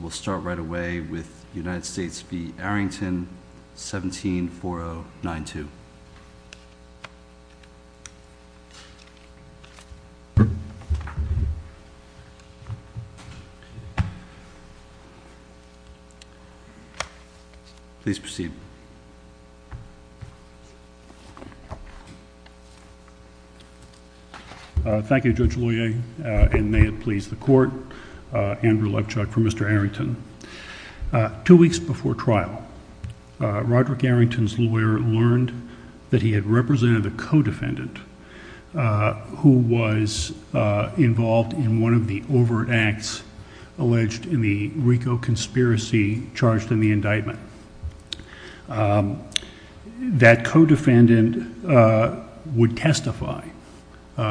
we'll start right away with United States v. Arrington 174092. Please proceed. Thank you. Two weeks before trial, Roderick Arrington's lawyer learned that he had represented a co-defendant who was involved in one of the overt acts alleged in the RICO conspiracy charged in the indictment. That co-defendant would testify,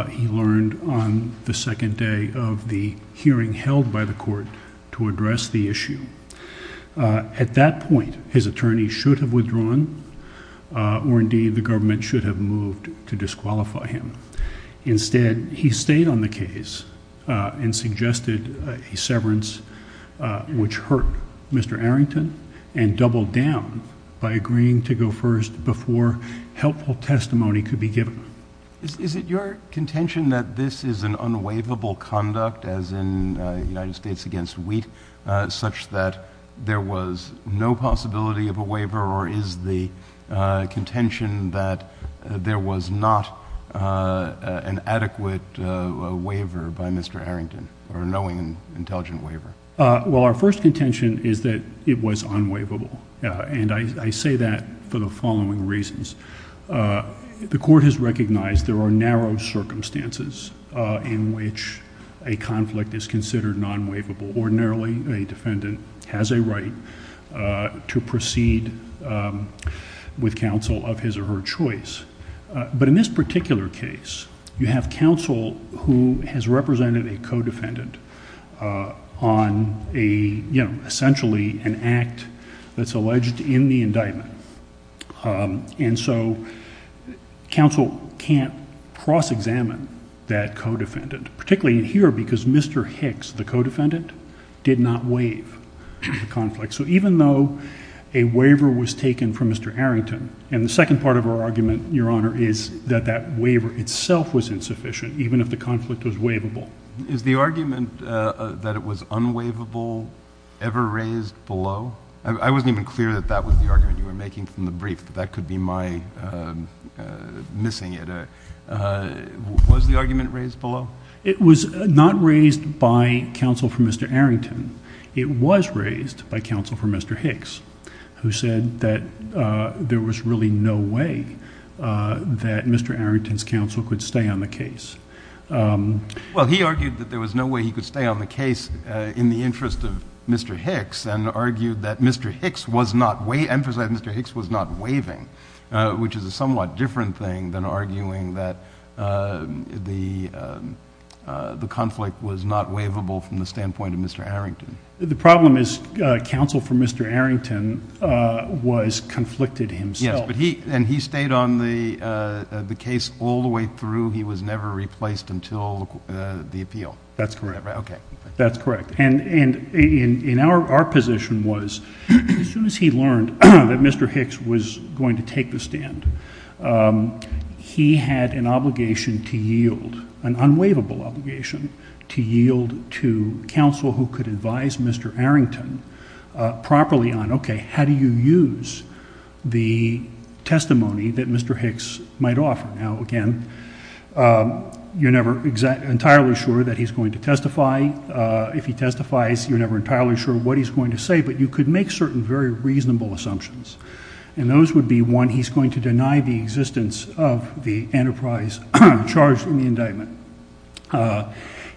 he learned on the second day of the hearing held by the court to address the issue. At that point, his attorney should have withdrawn or indeed the government should have moved to disqualify him. Instead, he stayed on the case and suggested a severance which hurt Mr. Arrington and doubled down by agreeing to go first before helpful testimony could be given. Is it your contention that this is an unwaivable conduct as in United States v. Wheat such that there was no possibility of a waiver or is the contention that there was not an adequate waiver by Mr. Arrington or knowing an intelligent waiver? Well our first contention is that it was unwaivable and I say that for the following reasons. The court has recognized there are narrow circumstances in which a conflict is considered non-waivable. Ordinarily, a defendant has a right to proceed with counsel of his or her choice, but in this particular case you have counsel who has represented a co-defendant on essentially an act that's alleged in the co-defendant, particularly here because Mr. Hicks, the co-defendant, did not waive the conflict. So even though a waiver was taken from Mr. Arrington and the second part of our argument, Your Honor, is that that waiver itself was insufficient even if the conflict was waivable. Is the argument that it was unwaivable ever raised below? I wasn't even clear that that was the argument you were making from the brief. That could be my missing it. Was the argument raised below? It was not raised by counsel for Mr. Arrington. It was raised by counsel for Mr. Hicks, who said that there was really no way that Mr. Arrington's counsel could stay on the case. Well he argued that there was no way he could stay on the case in the interest of Mr. Hicks and argued that Mr. Hicks was not, emphasized that Mr. Hicks was not waiving, which is a somewhat different thing than arguing that the conflict was not waivable from the standpoint of Mr. Arrington. The problem is counsel for Mr. Arrington was conflicted himself. Yes, and he stayed on the case all the way through. He was never replaced until the appeal. That's correct. Okay. That's correct. And in our position was, as soon as he learned that Mr. Hicks was going to take the stand, he had an obligation to yield, an unwaivable obligation to yield to counsel who could advise Mr. Arrington properly on, okay, how do you use the testimony that Mr. Hicks might offer? Now again, you're never entirely sure that he's going to testify. If he testifies, you're never entirely sure what he's going to say, but you could make certain very reasonable assumptions, and those would be one, he's going to deny the existence of the enterprise charged in the indictment.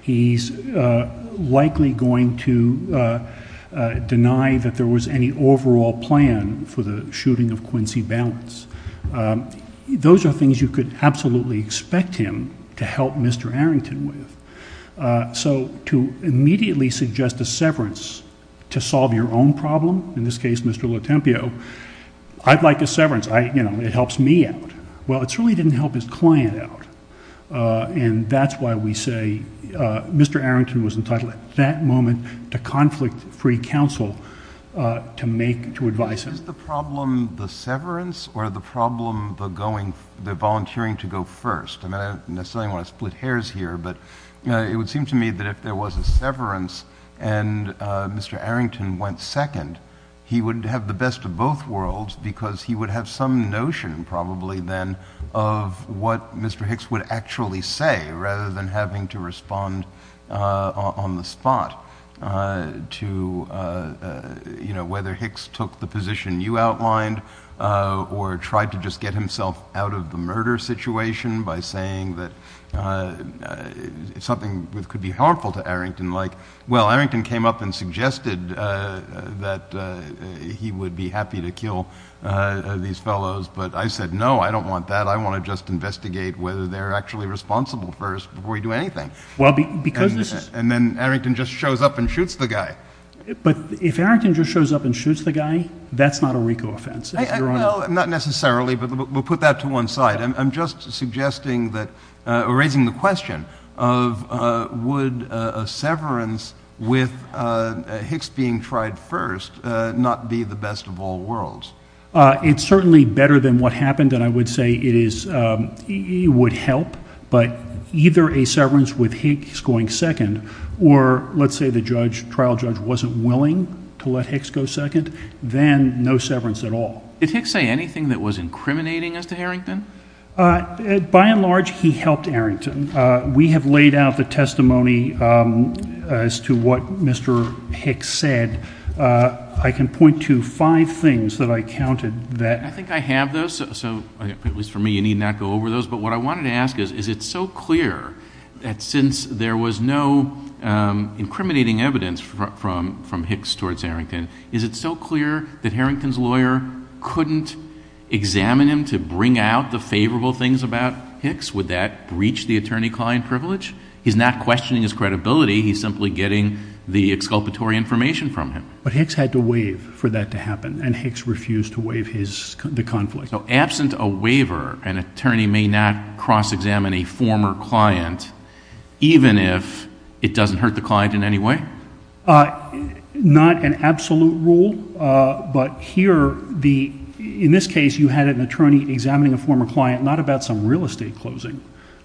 He's likely going to deny that there was any overall plan for the shooting of Quincy Balance. Those are things you could absolutely expect him to help Mr. Arrington with. So to immediately suggest a severance to solve your own problem, in this case Mr. Lotempio, I'd like a severance. It helps me out. Well, it certainly didn't help his client out, and that's why we say Mr. Arrington was entitled at that moment to conflict-free counsel to advise him. Is the problem the severance or the problem the volunteering to go first? I don't necessarily want to split hairs here, but it would seem to me that if there was a severance and Mr. Arrington went second, he would have the best of both worlds because he would have some notion probably then of what Mr. Hicks would actually say rather than having to respond on the spot to whether Hicks took the position you outlined or tried to just get himself out of the murder situation by saying that something could be harmful to Arrington. Well, Arrington came up and suggested that he would be happy to kill these fellows, but I said no, I don't want that. I want to just investigate whether they're actually responsible first before we do anything. And then Arrington just shows up and shoots the guy. But if Arrington just shows up and shoots the guy, that's not a RICO offense. Not necessarily, but we'll put that to one side. I'm just suggesting that or raising the question of would a severance with Hicks being tried first not be the best of all worlds? It's certainly better than what happened and I would say it would help, but either a severance with Hicks going second or let's say the trial judge wasn't willing to let Hicks go second, then no severance at all. Did Hicks say anything that was incriminating as to Arrington? By and large, he helped Arrington. We have laid out the testimony as to what Mr. Hicks said. I can point to five things that I counted there. I think I have those, so at least for me you need not go over those, but what I wanted to ask is, is it so clear that since there was no incriminating evidence from Hicks towards Arrington, is it so clear that Arrington's lawyer couldn't examine him to bring out the favorable things about Hicks? Would that breach the attorney-client privilege? He's not questioning his credibility, he's simply getting the exculpatory information from him. But Hicks had to waive for that to happen and Hicks refused to waive the conflict. So absent a waiver, an attorney may not cross-examine a former client even if it doesn't hurt the client in any way? Not an absolute rule, but here in this case you had an attorney examining a former client not about some real estate closing,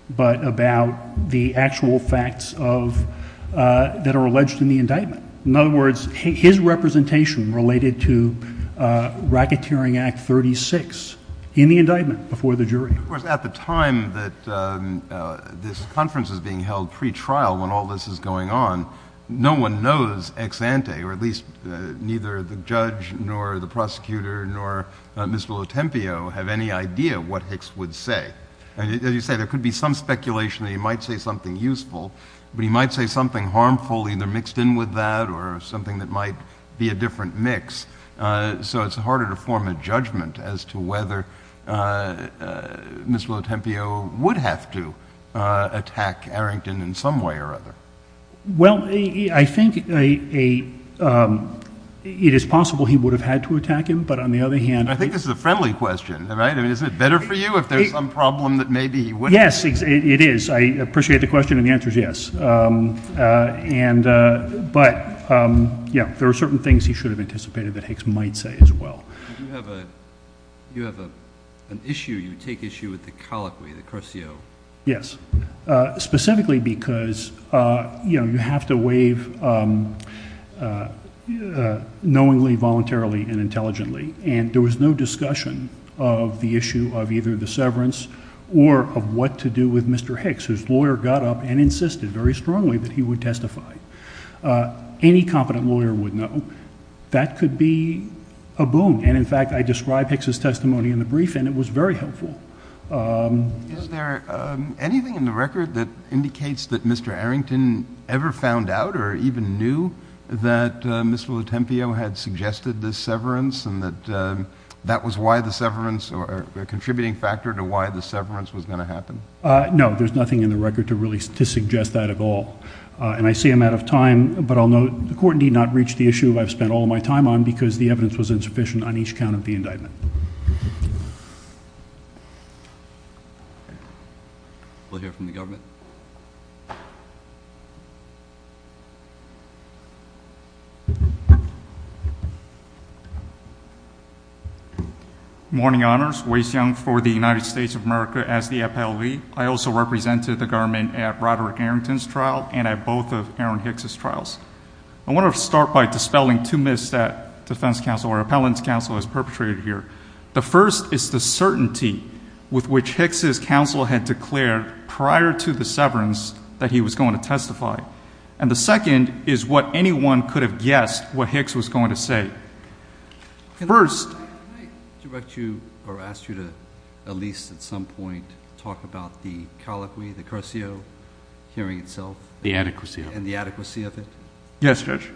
but about the actual facts that are alleged in the indictment. In other words, his representation related to Racketeering Act 36 in the indictment before the jury. Of course, at the time that this conference is being held, pretrial, when all this is going on, no one knows ex ante, or at least neither the judge nor the prosecutor nor Mr. Lotempio have any idea what Hicks would say. As you say, there could be some speculation that he might say something useful, but he might say something harmful either mixed in with that or something that might be a different mix. So it's harder to form a judgment as to whether Mr. Lotempio would have to attack Arrington in some way or other. Well, I think it is possible he would have had to attack him, but on the other hand— I think this is a friendly question, right? I mean, is it better for you if there's some problem that maybe he wouldn't? Yes, it is. I appreciate the question and the answer is yes. But yeah, there are certain things he should have anticipated that Hicks might say as well. You have an issue, you take issue with the colloquy, the cursio. Yes, specifically because you have to waive knowingly, voluntarily, and intelligently. And there was no discussion of the issue of either the severance or of what to do with Mr. Hicks, whose lawyer got up and insisted very strongly that he would testify. Any competent lawyer would know. That could be a boon. And in fact, I described Hicks' testimony in the brief and it was very helpful. Is there anything in the record that indicates that Mr. Arrington ever found out or even knew that Mr. Lotempio had suggested this severance and that that was why the severance or a contributing factor to why the severance was going to happen? No, there's nothing in the record to really suggest that at all. And I see I'm out of time, but I'll note the court need not reach the issue I've spent all my time on because the evidence was insufficient on each count of the indictment. We'll hear from the government. Good morning, honors. Waze Young for the United States of America as the FLV. I also represented the government at Roderick Arrington's trial and at both of Aaron Hicks' trials. I want to start by dispelling two myths that defense counsel or appellant's counsel has perpetrated here. The first is the certainty with which Hicks' counsel had declared prior to the severance that he was going to testify. And the second is what anyone could have guessed what Hicks was going to say. Can I direct you or ask you to at least at some point talk about the colloquy, the cursio, hearing itself? The adequacy of it. And the adequacy of it? Yes, Judge.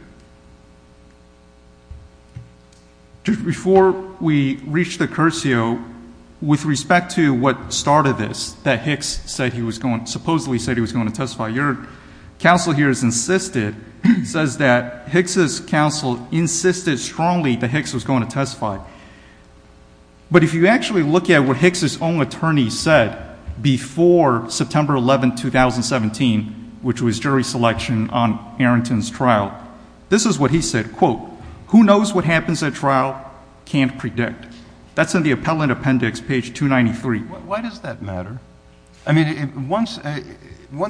Before we reach the cursio, with respect to what started this, that Hicks supposedly said he was going to testify, your counsel here has insisted, says that Hicks' counsel insisted strongly that Hicks was going to testify. But if you actually look at what Hicks' own attorney said before September 11, 2017, which was jury selection on Arrington's trial, this is what he said, quote, who knows what happens at trial, can't predict. That's in the appellant appendix, page 293. Why does that matter? I mean, once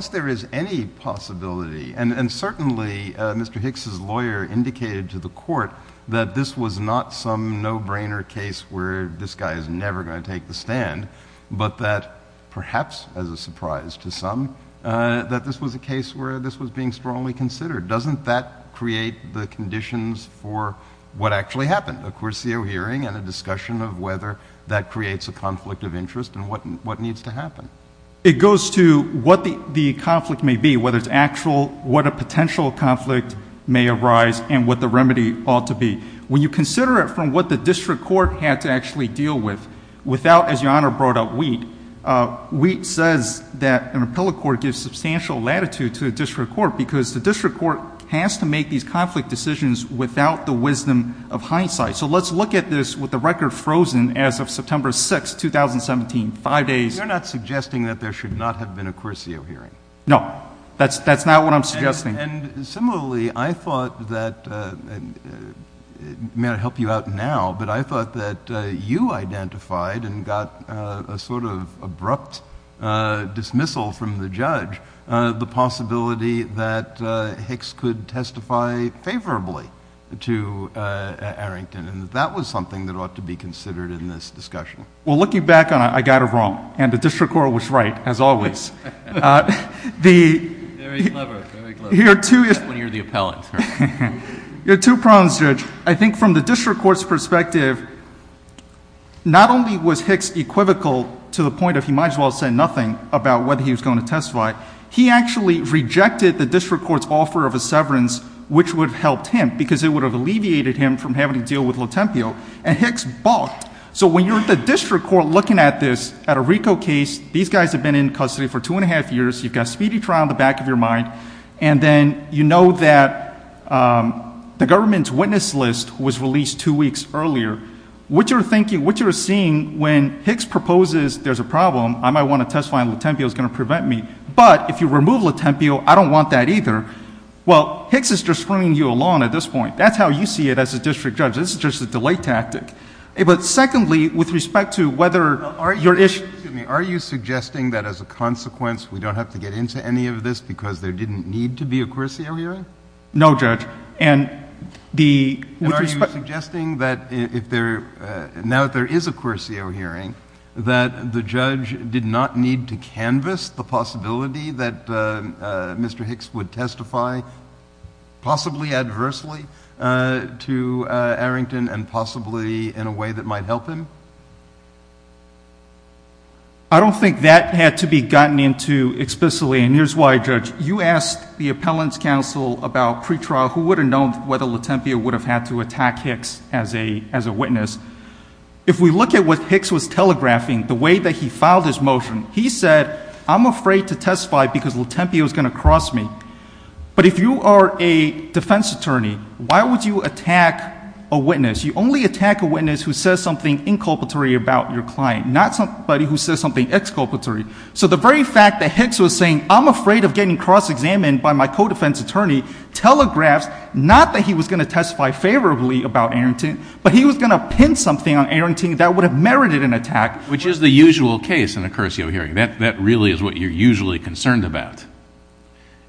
there is any possibility, and certainly Mr. Hicks' lawyer indicated to the court that this was not some no-brainer case where this guy is never going to take the stand, but that perhaps, as a surprise to some, that this was a case where this was being strongly considered. Doesn't that create the conditions for what actually happened, a cursio hearing and a discussion of whether that creates a conflict of interest and what needs to happen? It goes to what the conflict may be, whether it's actual, what a potential conflict may arise, and what the remedy ought to be. When you consider it from what the district court had to actually deal with, without, as Your Honor brought up, Wheat, Wheat says that an appellate court gives substantial latitude to the district court because the district court has to make these conflict decisions without the wisdom of hindsight. All right. So let's look at this with the record frozen as of September 6, 2017, five days. You're not suggesting that there should not have been a cursio hearing? No. That's not what I'm suggesting. And similarly, I thought that, may I help you out now, but I thought that you identified and got a sort of abrupt dismissal from the judge the possibility that Hicks could testify favorably to Arrington. And that was something that ought to be considered in this discussion. Well, looking back on it, I got it wrong. And the district court was right, as always. Very clever. Very clever. When you're the appellate. You have two problems, Judge. I think from the district court's perspective, not only was Hicks equivocal to the point of he might as well have said nothing about whether he was going to testify, he actually rejected the district court's offer of a severance, which would have helped him, because it would have alleviated him from having to deal with Lotempio. And Hicks bought. So when you're at the district court looking at this, at a RICO case, these guys have been in custody for two and a half years. You've got speedy trial in the back of your mind. And then you know that the government's witness list was released two weeks earlier. What you're seeing when Hicks proposes there's a problem, I might want to transfer this case to the district court to prevent me. But if you remove Lotempio, I don't want that either. Well, Hicks is just bringing you along at this point. That's how you see it as a district judge. It's just a delay tactic. But secondly, with respect to whether your issue... Are you suggesting that as a consequence we don't have to get into any of this because there didn't need to be a Corsio hearing? No, Judge. And the... And are you suggesting that if there... that's the possibility that Mr. Hicks would testify possibly adversely to Arrington and possibly in a way that might help him? I don't think that had to be gotten into explicitly. And here's why, Judge. You asked the Appellant's Counsel about pretrial, who would have known whether Lotempio would have had to attack Hicks as a witness. If we look at what Hicks was telegraphing, the way that he filed his motion, he said, I'm afraid to testify because Lotempio is going to cross me. But if you are a defense attorney, why would you attack a witness? You only attack a witness who says something inculpatory about your client, not somebody who says something exculpatory. So the very fact that Hicks was saying, I'm afraid of getting cross-examined by my co-defense attorney, telegraphs not that he was going to testify favorably about Arrington, but he was going to pin something on Arrington that would have merited an attack. Which is the usual case in a cursio hearing. That really is what you're usually concerned about.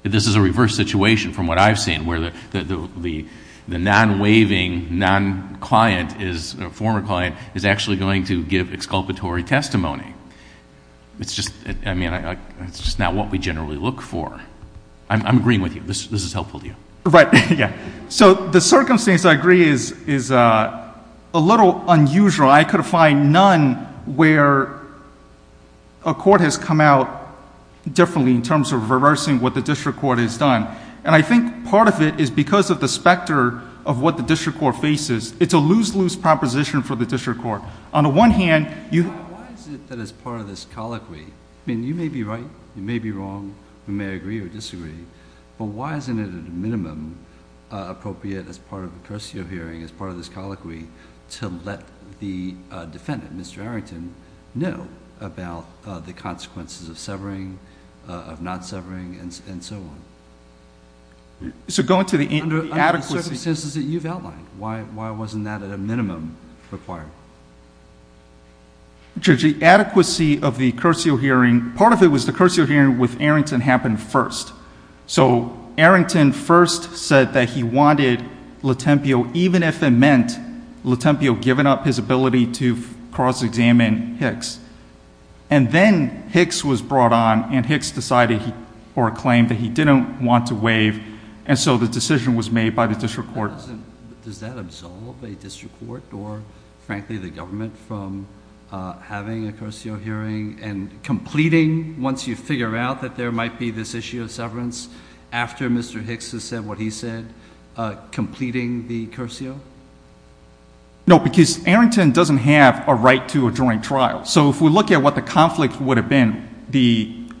This is a reverse situation from what I've seen, where the non-waving, non-client, former client, is actually going to give exculpatory testimony. It's just not what we generally look for. I'm agreeing with you. This is helpful to you. Right. So the circumstance I agree is a little unusual. I could find none where a court has come out differently in terms of reversing what the district court has done. And I think part of it is because of the specter of what the district court faces. It's a lose-lose proposition for the district court. On the one hand, you have to be careful. Why is it that as part of this colloquy, I mean, you may be right, you may be wrong, we may agree or disagree, but why isn't it at a minimum appropriate as part of a cursio hearing, as part of this colloquy, to let the defendant, Mr. Arrington, know about the consequences of severing, of not severing, and so on? So go into the adequacy. Under the circumstances that you've outlined, why wasn't that at a minimum required? Judge, the adequacy of the cursio hearing, part of it was the cursio hearing with Arrington happened first. So Arrington first said that he wanted Latempio, even if it meant Latempio giving up his ability to cross-examine Hicks. And then Hicks was brought on, and Hicks decided or claimed that he didn't want to waive, and so the decision was made by the district court. Does that absolve a district court or, frankly, the government from having a cursio hearing and completing, once you figure out that there might be this issue of severance, after Mr. Hicks has said what he said, completing the cursio? No, because Arrington doesn't have a right to a joint trial. So if we look at what the conflict would have been,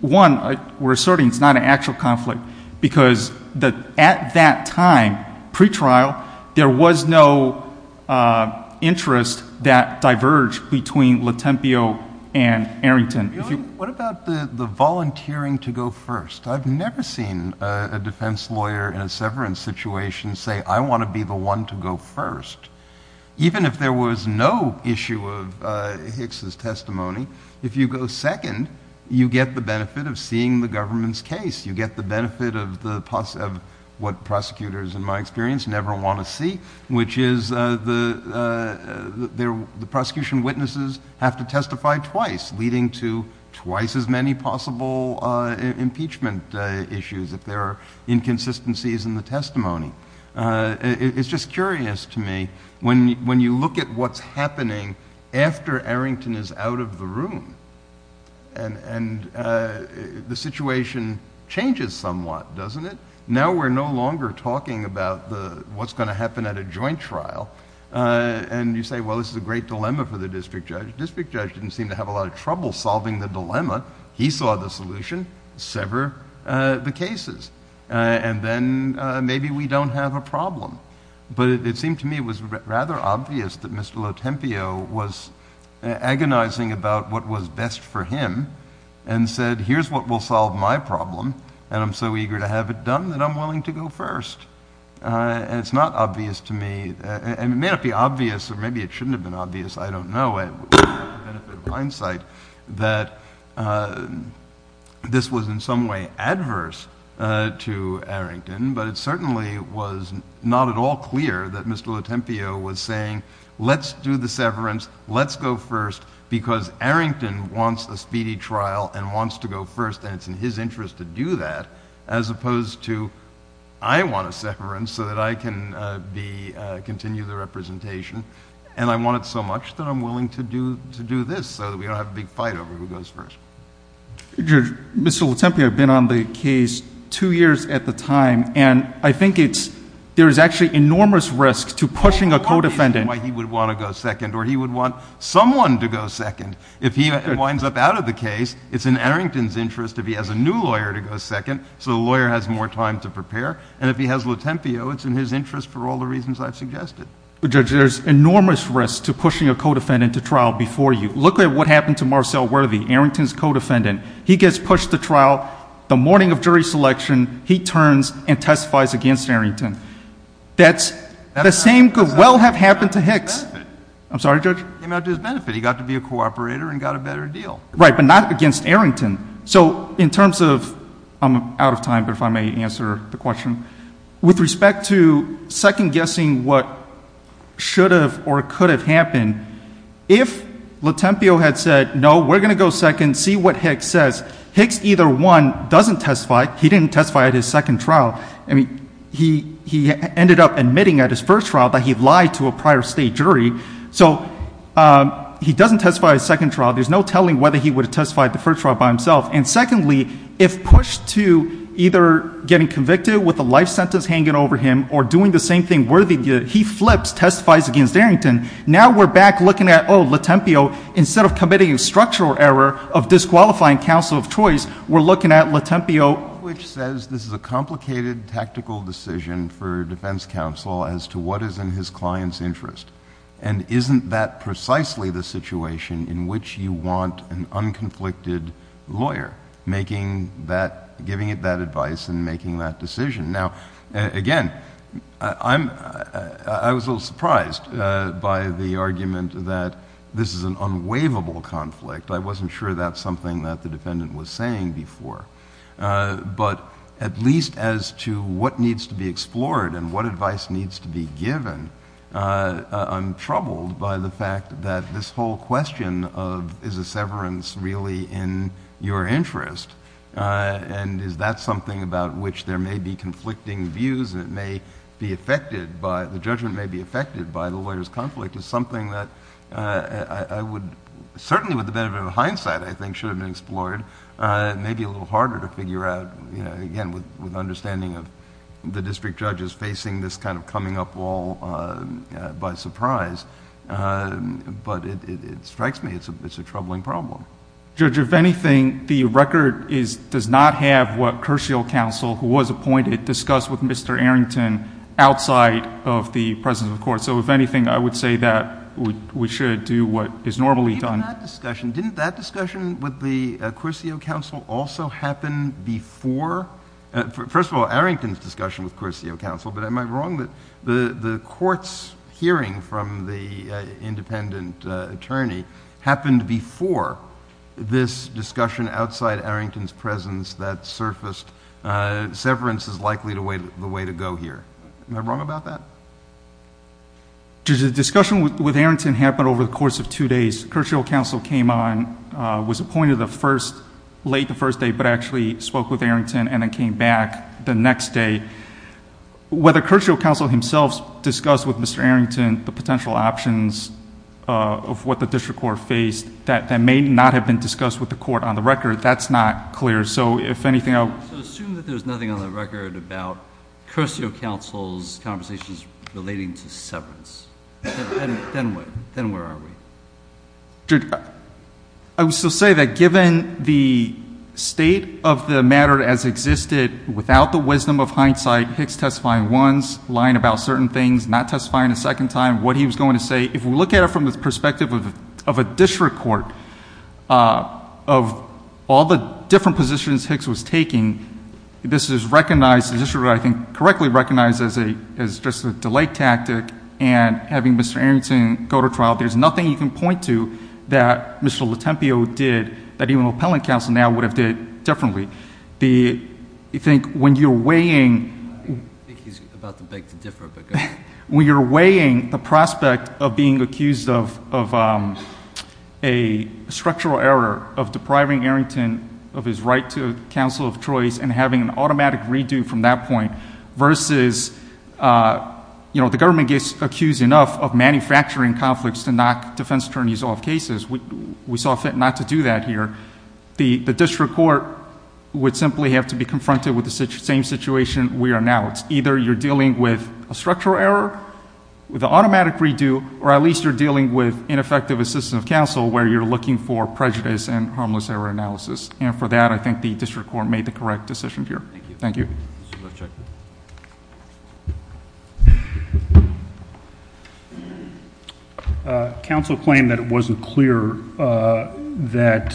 one, we're asserting it's not an actual conflict, because at that time, pre-trial, there was no interest that diverged between Latempio and Arrington. What about the volunteering to go first? I've never seen a defense lawyer in a severance situation say, I want to be the one to go first. Even if there was no issue of Hicks's testimony, if you go second, you get the benefit of seeing the government's case. You get the benefit of what prosecutors, in my experience, never want to see, which is the prosecution witnesses have to testify twice, leading to twice as many possible impeachment issues if there are inconsistencies in the testimony. It's just curious to me, when you look at what's happening after Arrington is out of the room, and the situation changes somewhat, doesn't it? Now we're no longer talking about what's going to happen at a joint trial, and you say, well, this is a great dilemma for the district judge. The district judge didn't seem to have a lot of trouble solving the dilemma. He saw the solution, sever the cases, and then maybe we don't have a problem. But it seemed to me it was rather obvious that Mr. Latempio was agonizing about what was best for him, and said, here's what will solve my problem, and I'm so eager to have it done that I'm willing to go first. And it's not obvious to me, and it may not be obvious, or maybe it shouldn't have been obvious, I don't know. It would be for the benefit of hindsight that this was in some way adverse to Arrington, but it certainly was not at all clear that Mr. Latempio was saying, let's do the severance, let's go first, because Arrington wants a speedy trial and wants to go first, and it's in his interest to do that as opposed to, I want a severance so that I can continue the representation, and I want it so much that I'm willing to do this so that we don't have a big fight over who goes first. Judge, Mr. Latempio had been on the case two years at the time, and I think there is actually enormous risk to pushing a co-defendant. Well, one reason why he would want to go second, or he would want someone to go second, if he winds up out of the case, it's in Arrington's interest if he has a new lawyer to go second so the lawyer has more time to prepare, and if he has Latempio, it's in his interest for all the reasons I've suggested. Judge, there's enormous risk to pushing a co-defendant to trial before you. Look at what happened to Marcel Worthy, Arrington's co-defendant. He gets pushed to trial. The morning of jury selection, he turns and testifies against Arrington. That's the same could well have happened to Hicks. I'm sorry, Judge? He came out to his benefit. He got to be a cooperator and got a better deal. Right, but not against Arrington. So in terms of, I'm out of time, but if I may answer the question, with respect to second-guessing what should have or could have happened, if Latempio had said, no, we're going to go second, see what Hicks says, Hicks either won, doesn't testify, he didn't testify at his second trial, he ended up admitting at his first trial that he lied to a prior state jury, so he doesn't testify at his second trial. There's no telling whether he would have testified at the first trial by himself. And secondly, if pushed to either getting convicted with a life sentence hanging over him or doing the same thing Worthy did, he flips, testifies against Arrington. Now we're back looking at, oh, Latempio, instead of committing a structural error of disqualifying counsel of choice, we're looking at Latempio, which says this is a complicated tactical decision for defense counsel as to what is in his client's interest. And isn't that precisely the situation in which you want an unconflicted lawyer, giving it that advice and making that decision? Now, again, I was a little surprised by the argument that this is an unwaivable conflict. I wasn't sure that's something that the defendant was saying before. But at least as to what needs to be explored and what advice needs to be given, I'm troubled by the fact that this whole question of is a severance really in your interest and is that something about which there may be conflicting views and the judgment may be affected by the lawyer's conflict is something that I would, certainly with the benefit of hindsight, I think, should have been explored. It may be a little harder to figure out, again, with understanding of the district judges facing this kind of coming up wall by surprise. But it strikes me it's a troubling problem. Judge, if anything, the record does not have what Kershial counsel, who was appointed, discussed with Mr. Arrington outside of the presence of the Court. So if anything, I would say that we should do what is normally done. Didn't that discussion with the Kershial counsel also happen before? First of all, Arrington's discussion with Kershial counsel, but am I wrong that the Court's hearing from the independent attorney happened before this discussion outside Arrington's presence that surfaced severance is likely the way to go here? Am I wrong about that? Judge, the discussion with Arrington happened over the course of two days. Kershial counsel came on, was appointed late the first day, but actually spoke with Arrington and then came back the next day. Whether Kershial counsel himself discussed with Mr. Arrington the potential options of what the district court faced that may not have been discussed with the Court on the record, that's not clear. So assume that there's nothing on the record about Kershial counsel's conversations relating to severance. Then where are we? Judge, I would still say that given the state of the matter as existed, without the wisdom of hindsight, Hicks testifying once, lying about certain things, not testifying a second time, what he was going to say, if we look at it from the perspective of a district court, of all the different positions Hicks was taking, this is recognized as a district court, I think, correctly recognized as just a delay tactic, and having Mr. Arrington go to trial, there's nothing you can point to that Mr. Latempio did that even appellant counsel now would have did differently. I think when you're weighing... I think he's about to beg to differ, but go ahead. When you're weighing the prospect of being accused of a structural error of depriving Arrington of his right to counsel of choice and having an automatic redo from that point versus the government gets accused enough of manufacturing conflicts to knock defense attorneys off cases. We saw fit not to do that here. The district court would simply have to be confronted with the same situation we are now. It's either you're dealing with a structural error, with an automatic redo, or at least you're dealing with ineffective assistance of counsel where you're looking for prejudice and harmless error analysis. And for that, I think the district court made the correct decision here. Thank you. Counsel claimed that it wasn't clear that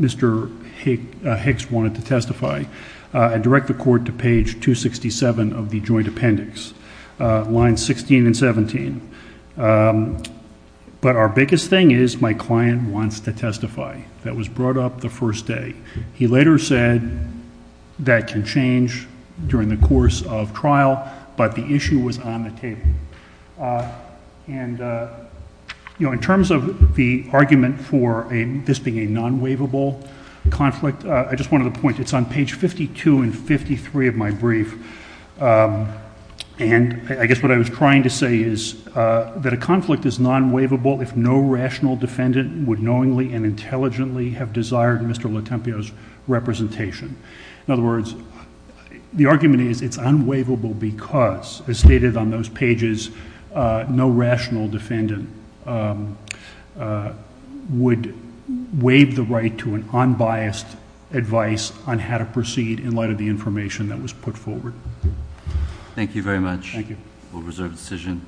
Mr. Hicks wanted to testify. I direct the court to page 267 of the joint appendix, lines 16 and 17. But our biggest thing is my client wants to testify. That was brought up the first day. He later said that can change during the course of trial, but the issue was on the table. And in terms of the argument for this being a non-waivable conflict, I just wanted to point it's on page 52 and 53 of my brief. And I guess what I was trying to say is that a conflict is non-waivable if no rational defendant would knowingly and intelligently have desired Mr. Letempio's representation. In other words, the argument is it's unwaivable because, as stated on those pages, no rational defendant would waive the right to an unbiased advice on how to proceed in light of the information that was put forward. Thank you very much. Thank you. We'll reserve the decision.